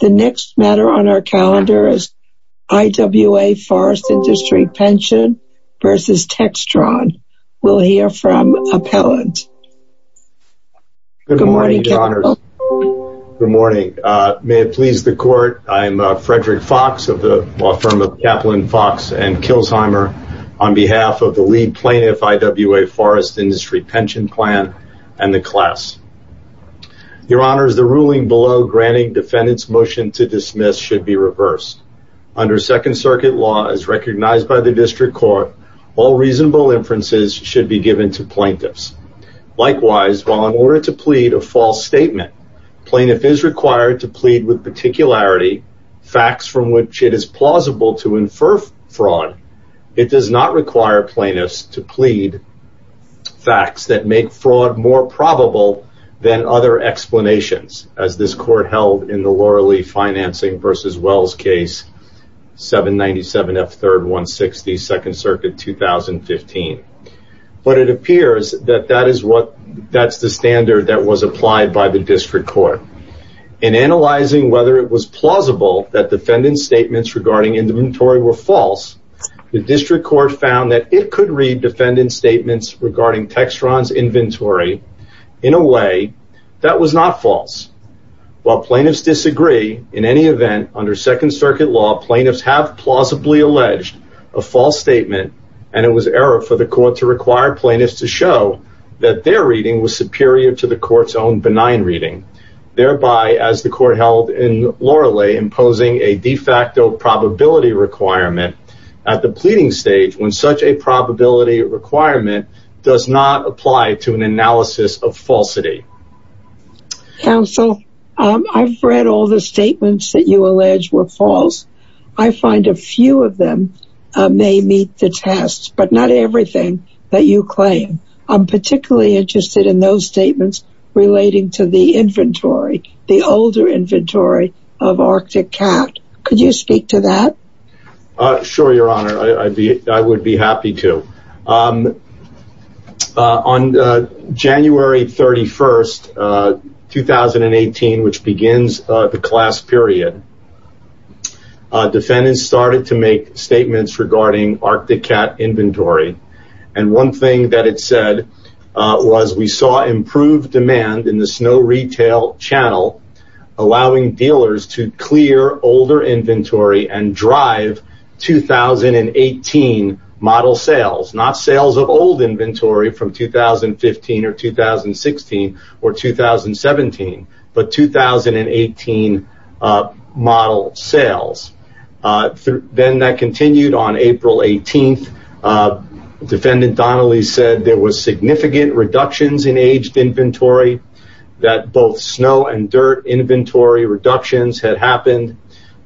The next matter on our calendar is IWA Forest Industry Pension v. Textron. We'll hear from appellant. Good morning. Good morning. May it please the court. I'm Frederick Fox of the law firm of Kaplan Fox and Kilsheimer on behalf of the lead plaintiff IWA Forest Industry Pension Plan and the class. Your honors, the ruling below granting defendant's motion to dismiss should be reversed. Under second circuit law as recognized by the district court, all reasonable inferences should be given to plaintiffs. Likewise, while in order to plead a false statement, plaintiff is required to plead with particularity facts from which it is plausible to infer fraud. It does not require plaintiffs to plead facts that make fraud more probable than other explanations as this court held in the Laura Lee Financing v. Wells case, 797F3-160, second circuit 2015. But it appears that that is what, that's the standard that was applied by the district court. In analyzing whether it was plausible that defendant's statements regarding inventory were false, the district court found that it could read defendant's statements regarding Textron's inventory in a way that was not false. While plaintiffs disagree, in any event, under second circuit law, plaintiffs have plausibly alleged a false statement and it was error for the court to require plaintiffs to show that their reading was superior to the court's own benign reading. Thereby, as the court held in Laura Lee, imposing a de facto probability requirement at the pleading stage when such a probability requirement does not apply to an analysis of falsity. Counsel, I've read all the statements that you allege were false. I find a few of them may meet the test, but not everything that you claim. I'm particularly interested in those inventory, the older inventory of Arctic Cat. Could you speak to that? Sure, your honor. I would be happy to. On January 31st, 2018, which begins the class period, defendants started to make statements regarding Arctic Cat inventory. And one thing that it said was we saw improved demand in the snow retail channel, allowing dealers to clear older inventory and drive 2018 model sales. Not sales of old inventory from 2015 or 2016 or 2017, but 2018 model sales. Then that continued on April 18th. Defendant Donnelly said there was significant reductions in aged inventory, that both snow and dirt inventory reductions had happened,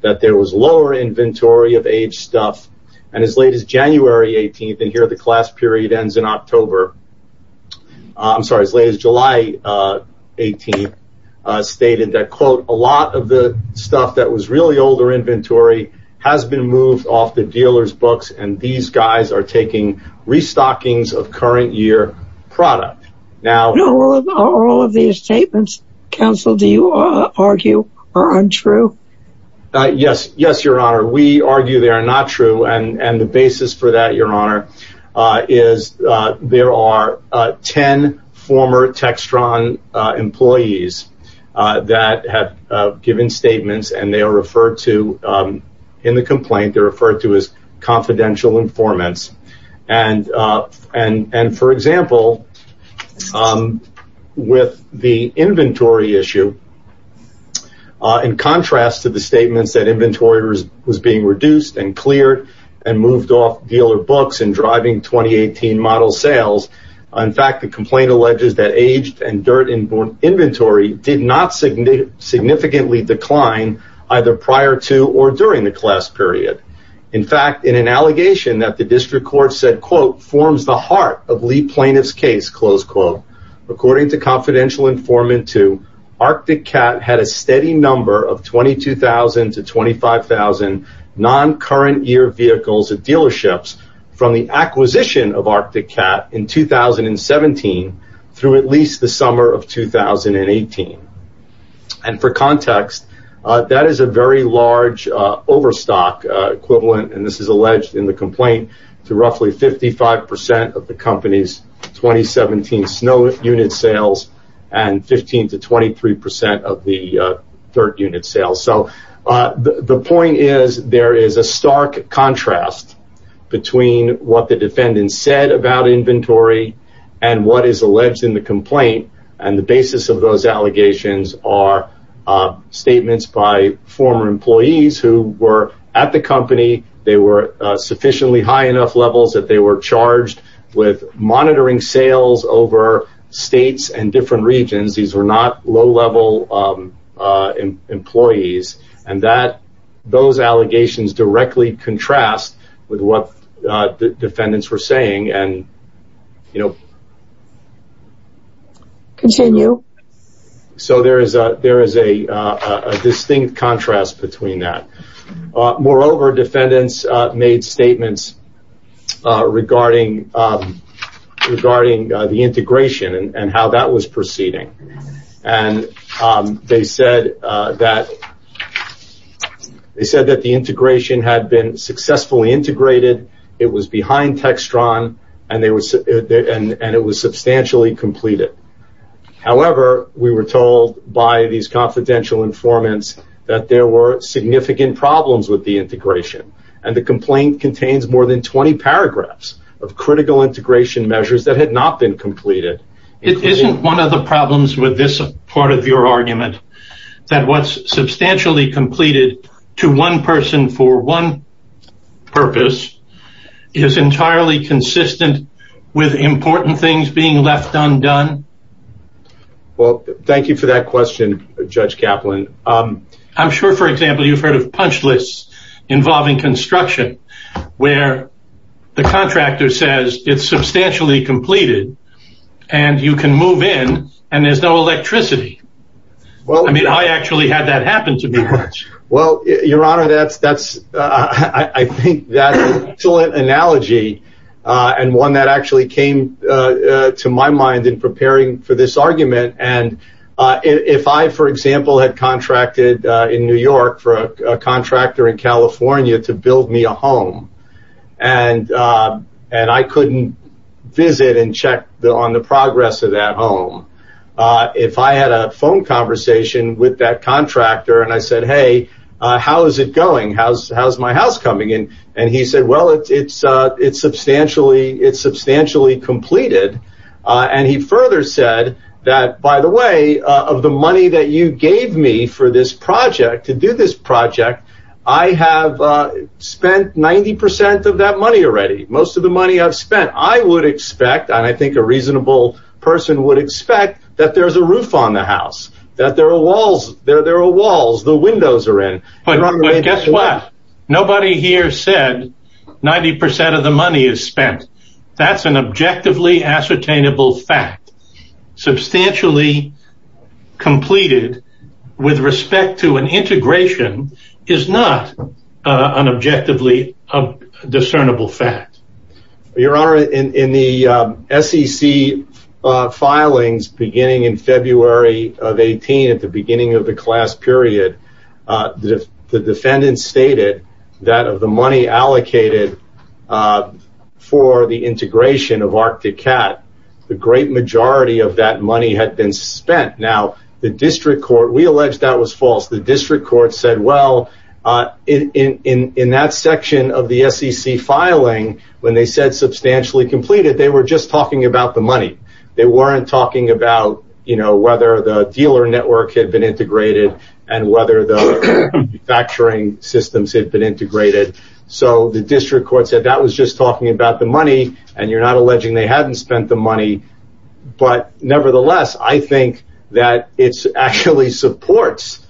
that there was lower inventory of aged stuff. And as late as January 18th, and here the class ends in October. I'm sorry, as late as July 18th, stated that, quote, a lot of the stuff that was really older inventory has been moved off the dealer's books. And these guys are taking restockings of current year product. Now, all of these statements, counsel, do you argue are untrue? Yes, yes, your honor. We argue they are not true. And the basis for that, your honor, is there are 10 former Textron employees that have given statements and they are referred to in the complaint, they're referred to as confidential informants. And for example, with the inventory issue, in contrast to the statements that inventory was being reduced and moved off dealer books and driving 2018 model sales, in fact, the complaint alleges that aged and dirt inventory did not significantly decline either prior to or during the class period. In fact, in an allegation that the district court said, quote, forms the heart of Lee plaintiff's case, close quote. According to confidential informant two, Arctic Cat had a steady number of 22,000 to 25,000 non-current year vehicles at dealerships from the acquisition of Arctic Cat in 2017 through at least the summer of 2018. And for context, that is a very large overstock equivalent, and this is alleged in the complaint, to roughly 55% of the company's 2017 snow unit sales and 15 to 23% of the third unit sales. So the point is there is a stark contrast between what the defendant said about inventory and what is alleged in the complaint. And the basis of those allegations are statements by former employees who were at the company, they were in different states and different regions, these were not low-level employees, and those allegations directly contrast with what the defendants were saying. So there is a distinct contrast between that. Moreover, defendants made statements regarding the integration and how that was proceeding. And they said that the integration had been successfully integrated, it was behind Textron, and it was substantially completed. However, we were told by these confidential informants that there were significant problems with the integration, and the complaint contains more than 20 paragraphs of critical integration measures that had not been completed. It isn't one of the problems with this part of your argument that what's substantially completed to one person for one purpose is entirely consistent with important things being left undone? Well, thank you for that question, Judge Kaplan. I'm sure, for example, you've heard of punch lists involving construction, where the contractor says it's substantially completed and you can move in and there's no electricity. I mean, I actually had that happen to me. Well, your honor, I think that's an excellent analogy and one that actually came to my mind in preparing for this argument. And if I, for example, had contracted in New York for a contractor in California to build me a home, and I couldn't visit and check on the progress of that home, if I had a phone conversation with that contractor and I said, hey, how is it going? How's my house coming? And he said, well, it's substantially completed. And he further said that, by the way, of the money that you gave me for this project, to do this project, I have spent 90% of that money already. Most of the money I've spent, I would expect, and I think a reasonable person would expect, that there's a roof on the house, that there are walls, there are walls, the windows are in. Guess what? Nobody here said 90% of the money is spent. That's an objectively ascertainable fact. Substantially completed with respect to an integration is not an objectively discernible fact. Your Honor, in the SEC filings beginning in February of 18, at the beginning of the class period, the defendant stated that of the money allocated for the integration of Arctic Cat, the great majority of that money had been spent. Now, the district court, we allege that was false. The district court said, well, in that section of the SEC filing, when they said substantially completed, they were just talking about the money. They weren't talking about whether the dealer network had been integrated and whether the factoring systems had been integrated. So the district court said that was just talking about the money, and you're not alleging they hadn't spent the money. But nevertheless, I think that it actually supports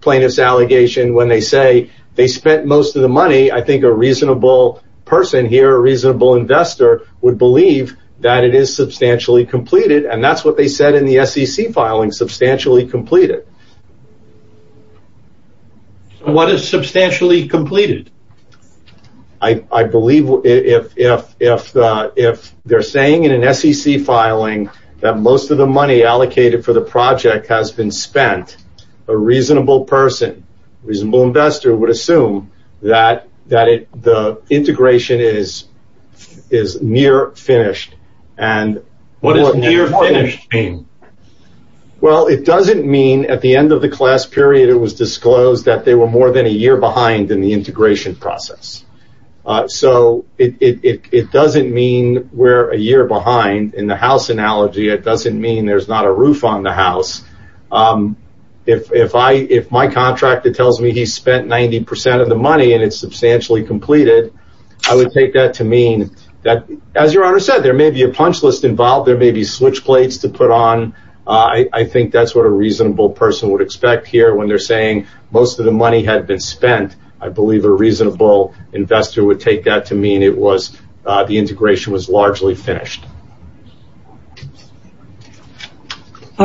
plaintiff's allegation when they say they spent most of the money. I think a reasonable person here, a reasonable investor, would believe that it is substantially completed, and that's what they said in the SEC filing, substantially completed. What is substantially completed? I believe if they're saying in an SEC filing that most of the money allocated for the project has been spent, a reasonable person, reasonable investor, would assume that the integration is near finished. What does near finished mean? Well, it doesn't mean at the end of the class period, it was disclosed that they were more than a year behind in the integration process. So it doesn't mean we're a year behind. In the house analogy, it doesn't mean there's not a roof on the house. If my contractor tells me he spent 90% of the money and it's substantially completed, I would take that to mean that, as your honor said, there may be a punch list involved, there may be switch plates to put on. I think that's what a reasonable person would expect here when they're saying most of the money had been spent. I believe a reasonable investor would take that to mean the integration was largely finished.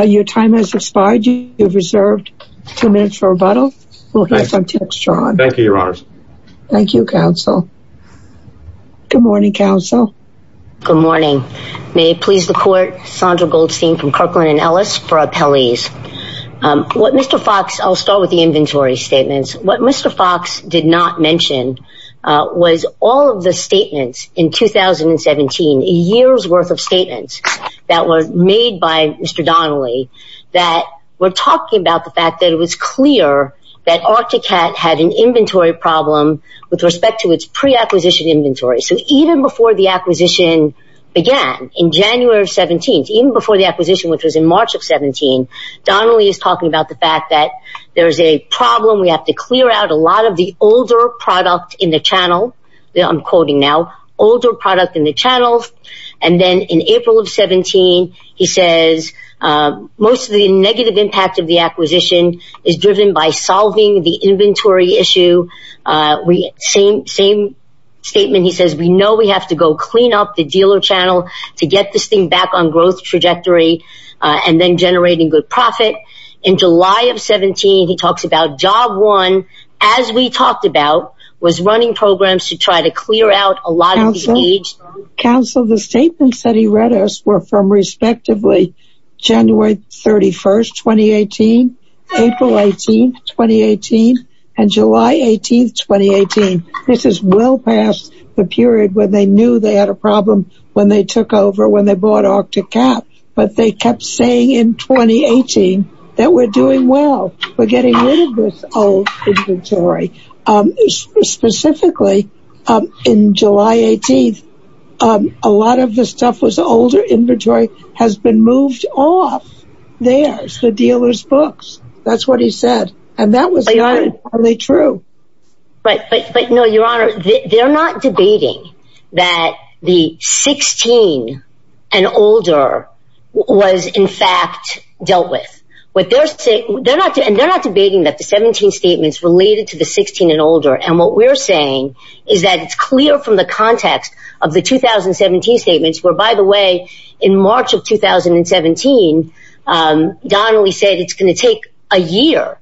Your time has expired. You have reserved two minutes for rebuttal. Thank you, your honor. Thank you, counsel. Good morning, counsel. Good morning. May it please the court, Sandra Goldstein from Kirkland & Ellis for appellees. What Mr. Fox, I'll start with the inventory statements. What Mr. Fox did not mention was all of the statements in 2017, a year's worth of statements that were made by Mr. Donnelly that were talking about the fact that it was clear that Arctic Cat had an inventory problem with respect to its pre-acquisition inventory. So even before the acquisition began in January of 17, even before the acquisition, which was in March of 17, Donnelly is talking about the fact that there's a problem. We have to clear out a lot of the older product in the channel. I'm quoting now, older product in the channels. And then in April of 17, he says, most of the negative impact of the acquisition is driven by solving the inventory issue. Same statement, he says, we know we have to go clean up the dealer channel to get this thing on growth trajectory and then generating good profit. In July of 17, he talks about job one, as we talked about, was running programs to try to clear out a lot of the age. Counsel, the statements that he read us were from respectively January 31, 2018, April 18, 2018, and July 18, 2018. This is well past the period where they knew they had a problem when they took over when they bought Arctic Cap. But they kept saying in 2018, that we're doing well, we're getting rid of this old inventory. Specifically, in July 18. A lot of the stuff was older inventory has been moved off. There's the dealers books. That's what he said. And that was probably true. But but but no, Your Honor, they're not debating that the 16 and older was in fact dealt with what they're saying. They're not and they're not debating that the 17 statements related to the 16 and older and what we're saying is that it's clear from the context of the 2017 statements were by the way, in March of 2017. Donnelly said it's going to take a year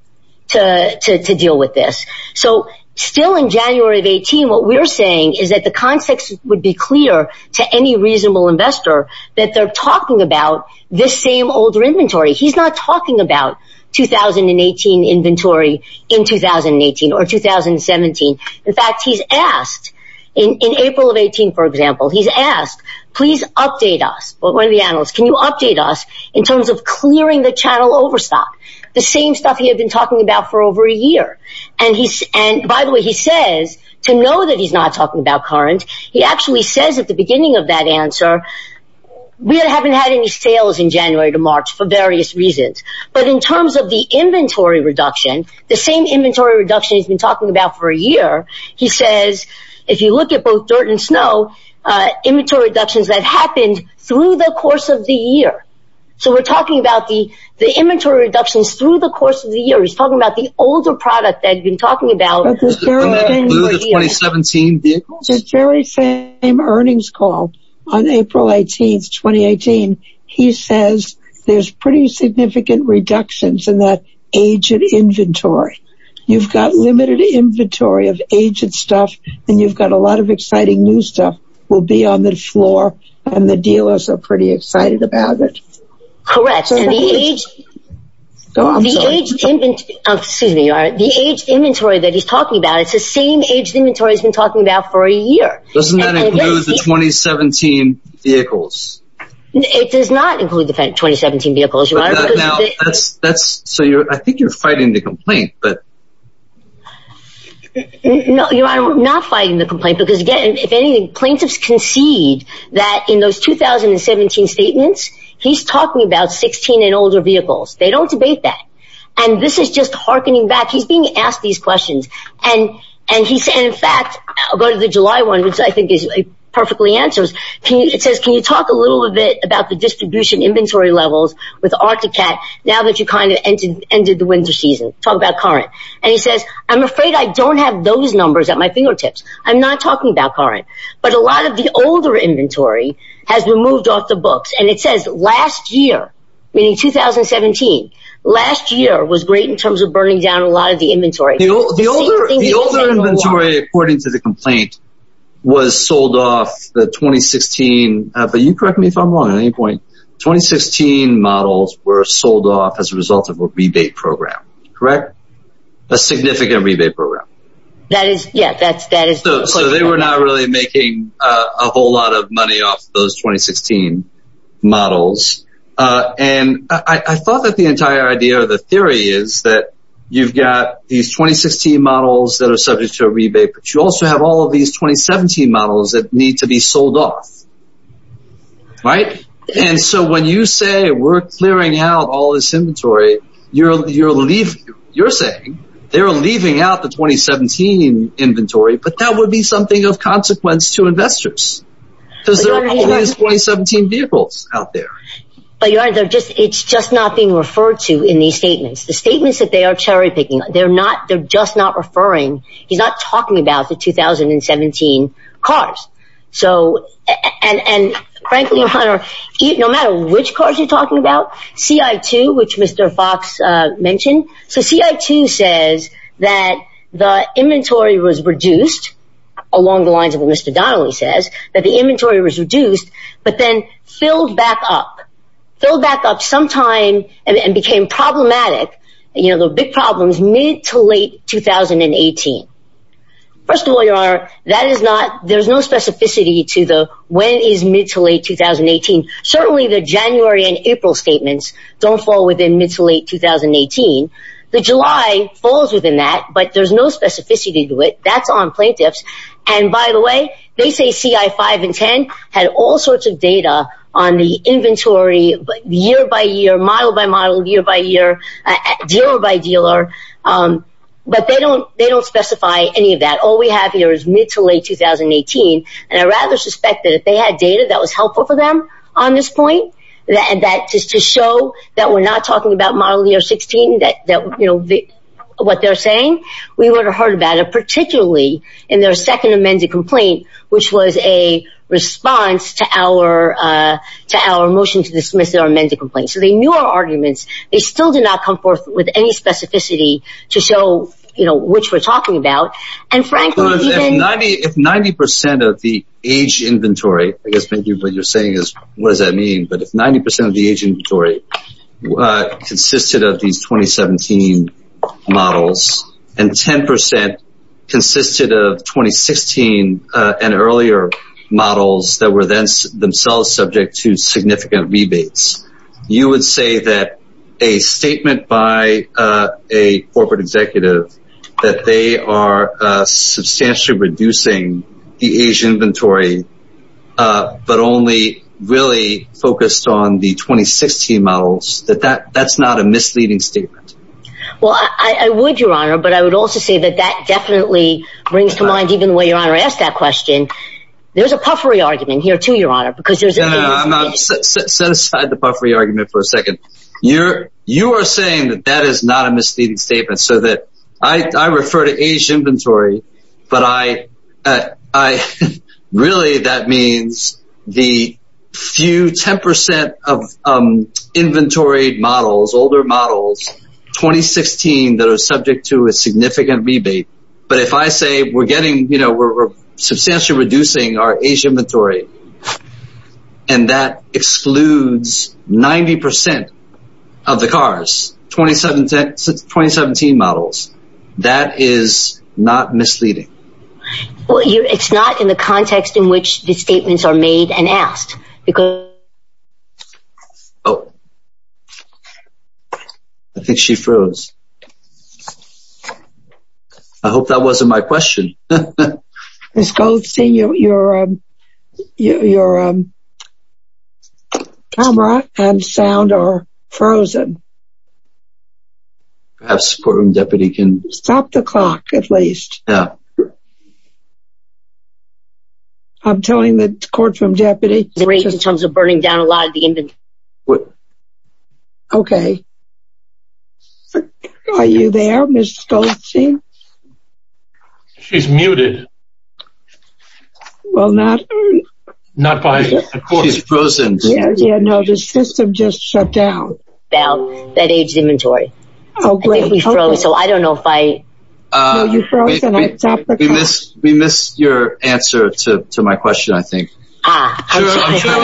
to deal with this. So still in January of 18. What we're saying is that the context would be clear to any reasonable investor that they're talking about this same older inventory. He's not talking about 2018 inventory in 2018 or 2017. In fact, he's asked in April of 18. For example, he's asked, please update us what one of the analysts can you update us in terms of clearing the channel overstock, the same stuff he had been talking about for over a year. And he's and by the way, he says to know that he's not talking about current, he actually says at the beginning of that answer, we haven't had any sales in January to March for various reasons. But in terms of the inventory reduction, the same inventory reduction he's been talking about for a year, he says, if you look at both dirt and snow, inventory reductions that happened through the course of the year. So we're talking about the, the inventory reductions through the course of the year, he's talking about the older product that you've been talking about. This very same earnings call on April 18 2018. He says, there's pretty significant reductions in that agent inventory. You've got limited inventory of agent stuff. And you've got a lot of exciting new stuff will be on the floor. And the dealers are pretty excited about it. Correct. The age inventory that he's talking about, it's the same age inventory has been talking about for a year. Doesn't that include the 2017 vehicles? It does not include the 2017 vehicles. That's so you're I think you're fighting the complaint, but no, you're not fighting the complaint. Because again, if anything, plaintiffs concede that in those 2017 statements, he's talking about 16 and older vehicles, they don't debate that. And this is just hearkening back, he's being asked these questions. And, and he said, in fact, go to the July one, which I think is perfectly answers. Can you it says, can you talk a little bit about the distribution inventory levels with Arctic cat now that you kind of entered into the winter season talk about current. And he says, I'm afraid I don't have those numbers at my fingertips. I'm not talking about current. But a lot of the older inventory has been moved off the books. And it says last year, meaning 2017. Last year was great in terms of burning down a lot of the inventory. The older inventory, according to the complaint, was sold off the 2016. But you correct me if I'm wrong at any point. 2016 models were sold off as a result of a rebate program, correct? A significant rebate program. That is Yeah, that's that is so they were not really making a whole lot of money off those 2016 models. And I thought that the entire idea of the theory is that you've got these 2016 models that are subject to a rebate, but you also have all of these 2017 models that need to be sold off. Right. And so when you say we're clearing out all this inventory, you're you're leaving, you're saying they're leaving out the 2017 inventory, but that would be something of consequence to investors. Because there are always 2017 vehicles out there. But you're either just it's just not being referred to in these statements, the statements that they are cherry picking. They're not they're just not referring. He's not talking about the 2017 cars. So and frankly, no matter which cars you're talking about, CI2, which Mr. Fox mentioned, so CI2 says that the inventory was reduced along the lines of what Mr. Donnelly says that the inventory was reduced, but then filled back up, filled back up sometime and became problematic. You know, the big problems mid to late 2018. First of all, your honor, that is not there's no specificity to the when is mid to late 2018. Certainly the January and April statements don't fall within mid to late 2018. The July falls within that, but there's no specificity to it. That's on plaintiffs. And by the way, they say CI5 and 10 had all sorts of data on the inventory year by year, model by model, year by year, dealer by dealer. But they don't they don't specify any of that. All we have here is mid to late 2018. And I rather suspect that if they had data that was helpful for them on this point, that just to show that we're not talking about model year 16, that you know, what they're saying, we would have particularly in their second amended complaint, which was a response to our, to our motion to dismiss their amended complaint. So they knew our arguments, they still did not come forth with any specificity to show, you know, which we're talking about. And frankly, if 90% of the age inventory, I guess maybe what you're saying is, what does that mean? But if 90% of the age inventory was consisted of these 2017 models, and 10% consisted of 2016, and earlier models that were then themselves subject to significant rebates, you would say that a statement by a corporate executive, that they are substantially reducing the age inventory, but only really focused on the 2016 models that that that's not a misleading statement. Well, I would your honor, but I would also say that that definitely brings to mind even the way your honor asked that question. There's a puffery argument here to your honor, because there's set aside the puffery argument for a second. You're, you are saying that that is not a misleading statement so that I refer to age inventory. But I, I really that means the few 10% of inventory models, older models, 2016, that are subject to a significant rebate. But if I say we're getting, you know, we're substantially reducing our age inventory. And that excludes 90% of the cars, 2017, 2017 models, that is not misleading. Well, it's not in the context in which the statements are made and asked, because I think she froze. I hope that wasn't my question. Let's go see your, your, your camera and sound are frozen. Perhaps support room deputy can stop the clock at least. Yeah. I'm telling the court from deputy the rate in terms of burning down a lot of the inventory. What? Okay. Are you there? Miss? She's muted. Well, not not by no, the system just shut down. Now that age inventory. So I don't know if I we missed we missed your answer to my question. I think I'm sure it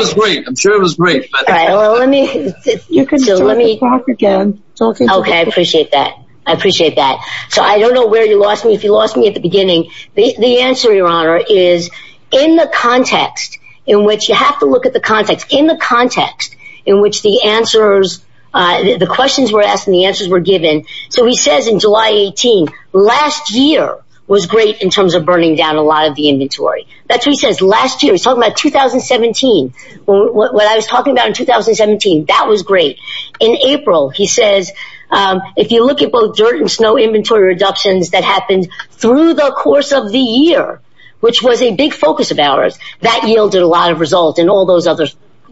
was great. All right. Well, let me let me talk again. Okay, appreciate that. I appreciate that. So I don't know where you lost me. If you lost me at the beginning. The answer, Your Honor is in the context in which you have to look at the context in the context in which the answers, the questions were asked and the answers were given. So he says in July 18, last year was great in terms of burning down a lot of the inventory. That's what he says last year. He's talking about 2017. What I was talking about in 2017. That was great. In April, he says, if you look at both dirt and snow inventory reductions that happened through the course of the year, which was a big focus of ours, that yielded a lot of results and all those other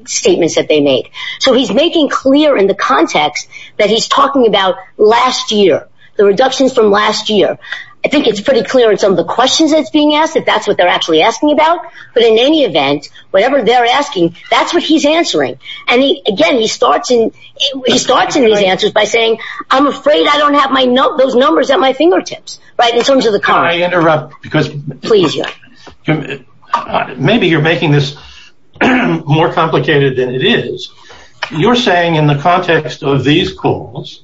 statements that they made. So he's making clear in the context that he's talking about last year, the reductions from last year. I think it's pretty clear in some of the questions that's being asked that that's what they're actually asking about. But in any event, whatever they're asking, that's what he's answering. And again, he starts in he starts in his answers by saying, I'm afraid I don't have my note those numbers at my fingertips. Right. In terms of the car, I interrupt because please. Maybe you're making this more complicated than it is. You're saying in the context of these calls,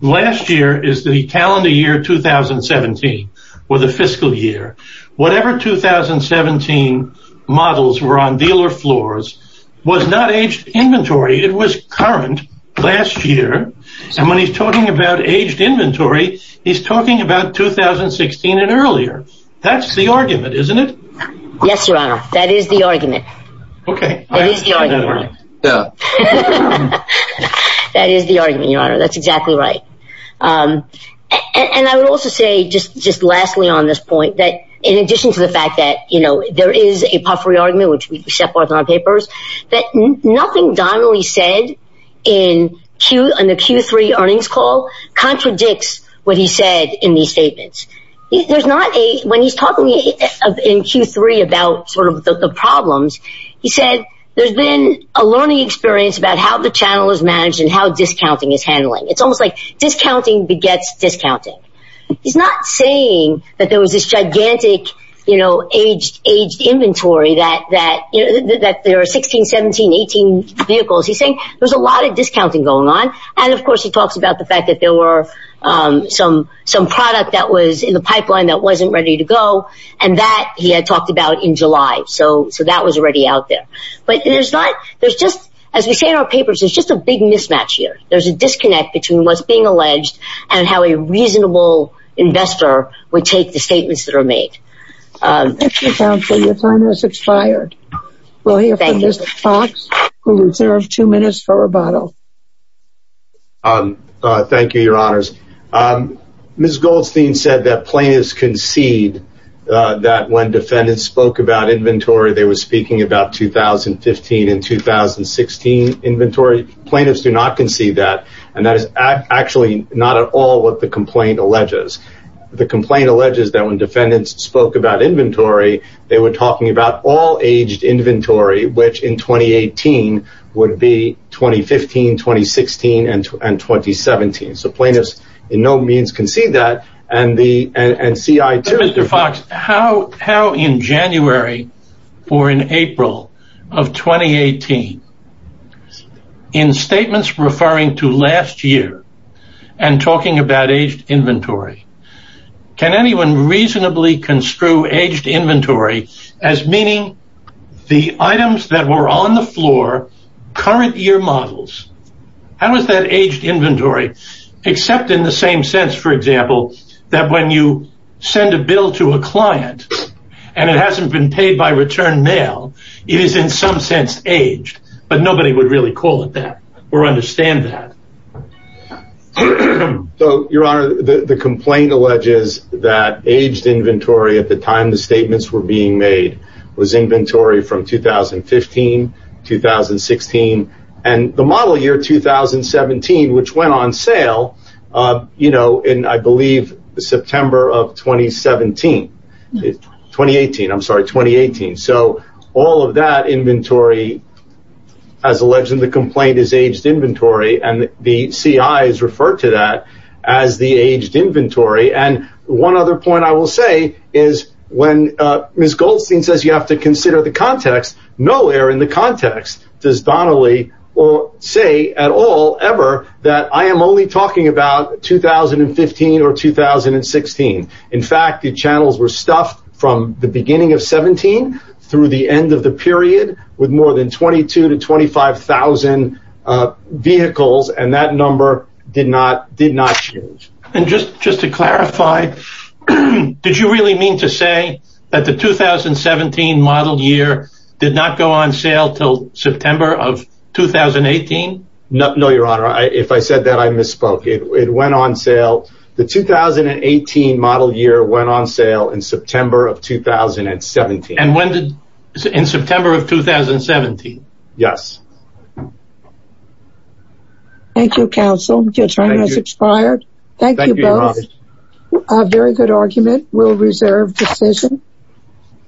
last year is the calendar year 2017, or the fiscal year, whatever 2017 models were on dealer floors, was not aged inventory, it was current last year. And when he's talking about aged inventory, he's talking about 2016 and earlier. That's the that is the argument, Your Honor. That's exactly right. And I would also say just just lastly, on this point, that in addition to the fact that, you know, there is a puffery argument, which we set forth on papers, that nothing Donnelly said in Q and the Q3 earnings call contradicts what he said in these statements. There's not a when he's talking in Q3 about sort said, there's been a learning experience about how the channel is managed and how discounting is handling. It's almost like discounting begets discounting. He's not saying that there was this gigantic, you know, aged, aged inventory that that that there are 16, 17, 18 vehicles, he's saying there's a lot of discounting going on. And of course, he talks about the fact that there were some some product that was in the pipeline that wasn't ready to go. And that he had talked about in July. So so that was already out there. But there's not there's just, as we say, our papers, it's just a big mismatch here. There's a disconnect between what's being alleged and how a reasonable investor would take the statements that are made. Your time has expired. We'll hear from Mr. Fox, who reserved two minutes for rebuttal. Um, thank you, Your Honors. Ms. Goldstein said that plaintiffs concede that when defendants spoke about inventory, they were speaking about 2015 and 2016 inventory. Plaintiffs do not concede that. And that is actually not at all what the complaint alleges. The complaint alleges that when defendants spoke about inventory, they were talking about all 2016 and 2017. So plaintiffs in no means concede that. And the NCI to Mr. Fox, how how in January, or in April of 2018. In statements referring to last year, and talking about aged inventory, can anyone reasonably construe aged inventory as meaning the items that were on the floor, current year models? How is that aged inventory, except in the same sense, for example, that when you send a bill to a client, and it hasn't been paid by return mail, it is in some sense aged, but nobody would really call it that or understand that. So Your Honor, the complaint alleges that aged inventory at the time the statements were being made, was inventory from 2015 2016. And the model year 2017, which went on sale, you know, in I believe, September of 2017. 2018, I'm sorry, 2018. So all of that inventory, as alleged in the complaint is aged inventory. And the CI is referred to that as the aged you have to consider the context. Nowhere in the context does Donnelly or say at all ever that I am only talking about 2015 or 2016. In fact, the channels were stuffed from the beginning of 17 through the end of the period with more than 22 to 25,000 vehicles and that number did not change. And just just to clarify, did you really mean to say that the 2017 model year did not go on sale till September of 2018? No, Your Honor, if I said that I misspoke it went on sale. The 2018 model year went on sale in September of 2017. And when did in September of 2017? Yes. Thank you, counsel. Your time has expired. Thank you. A very good argument will reserve decision.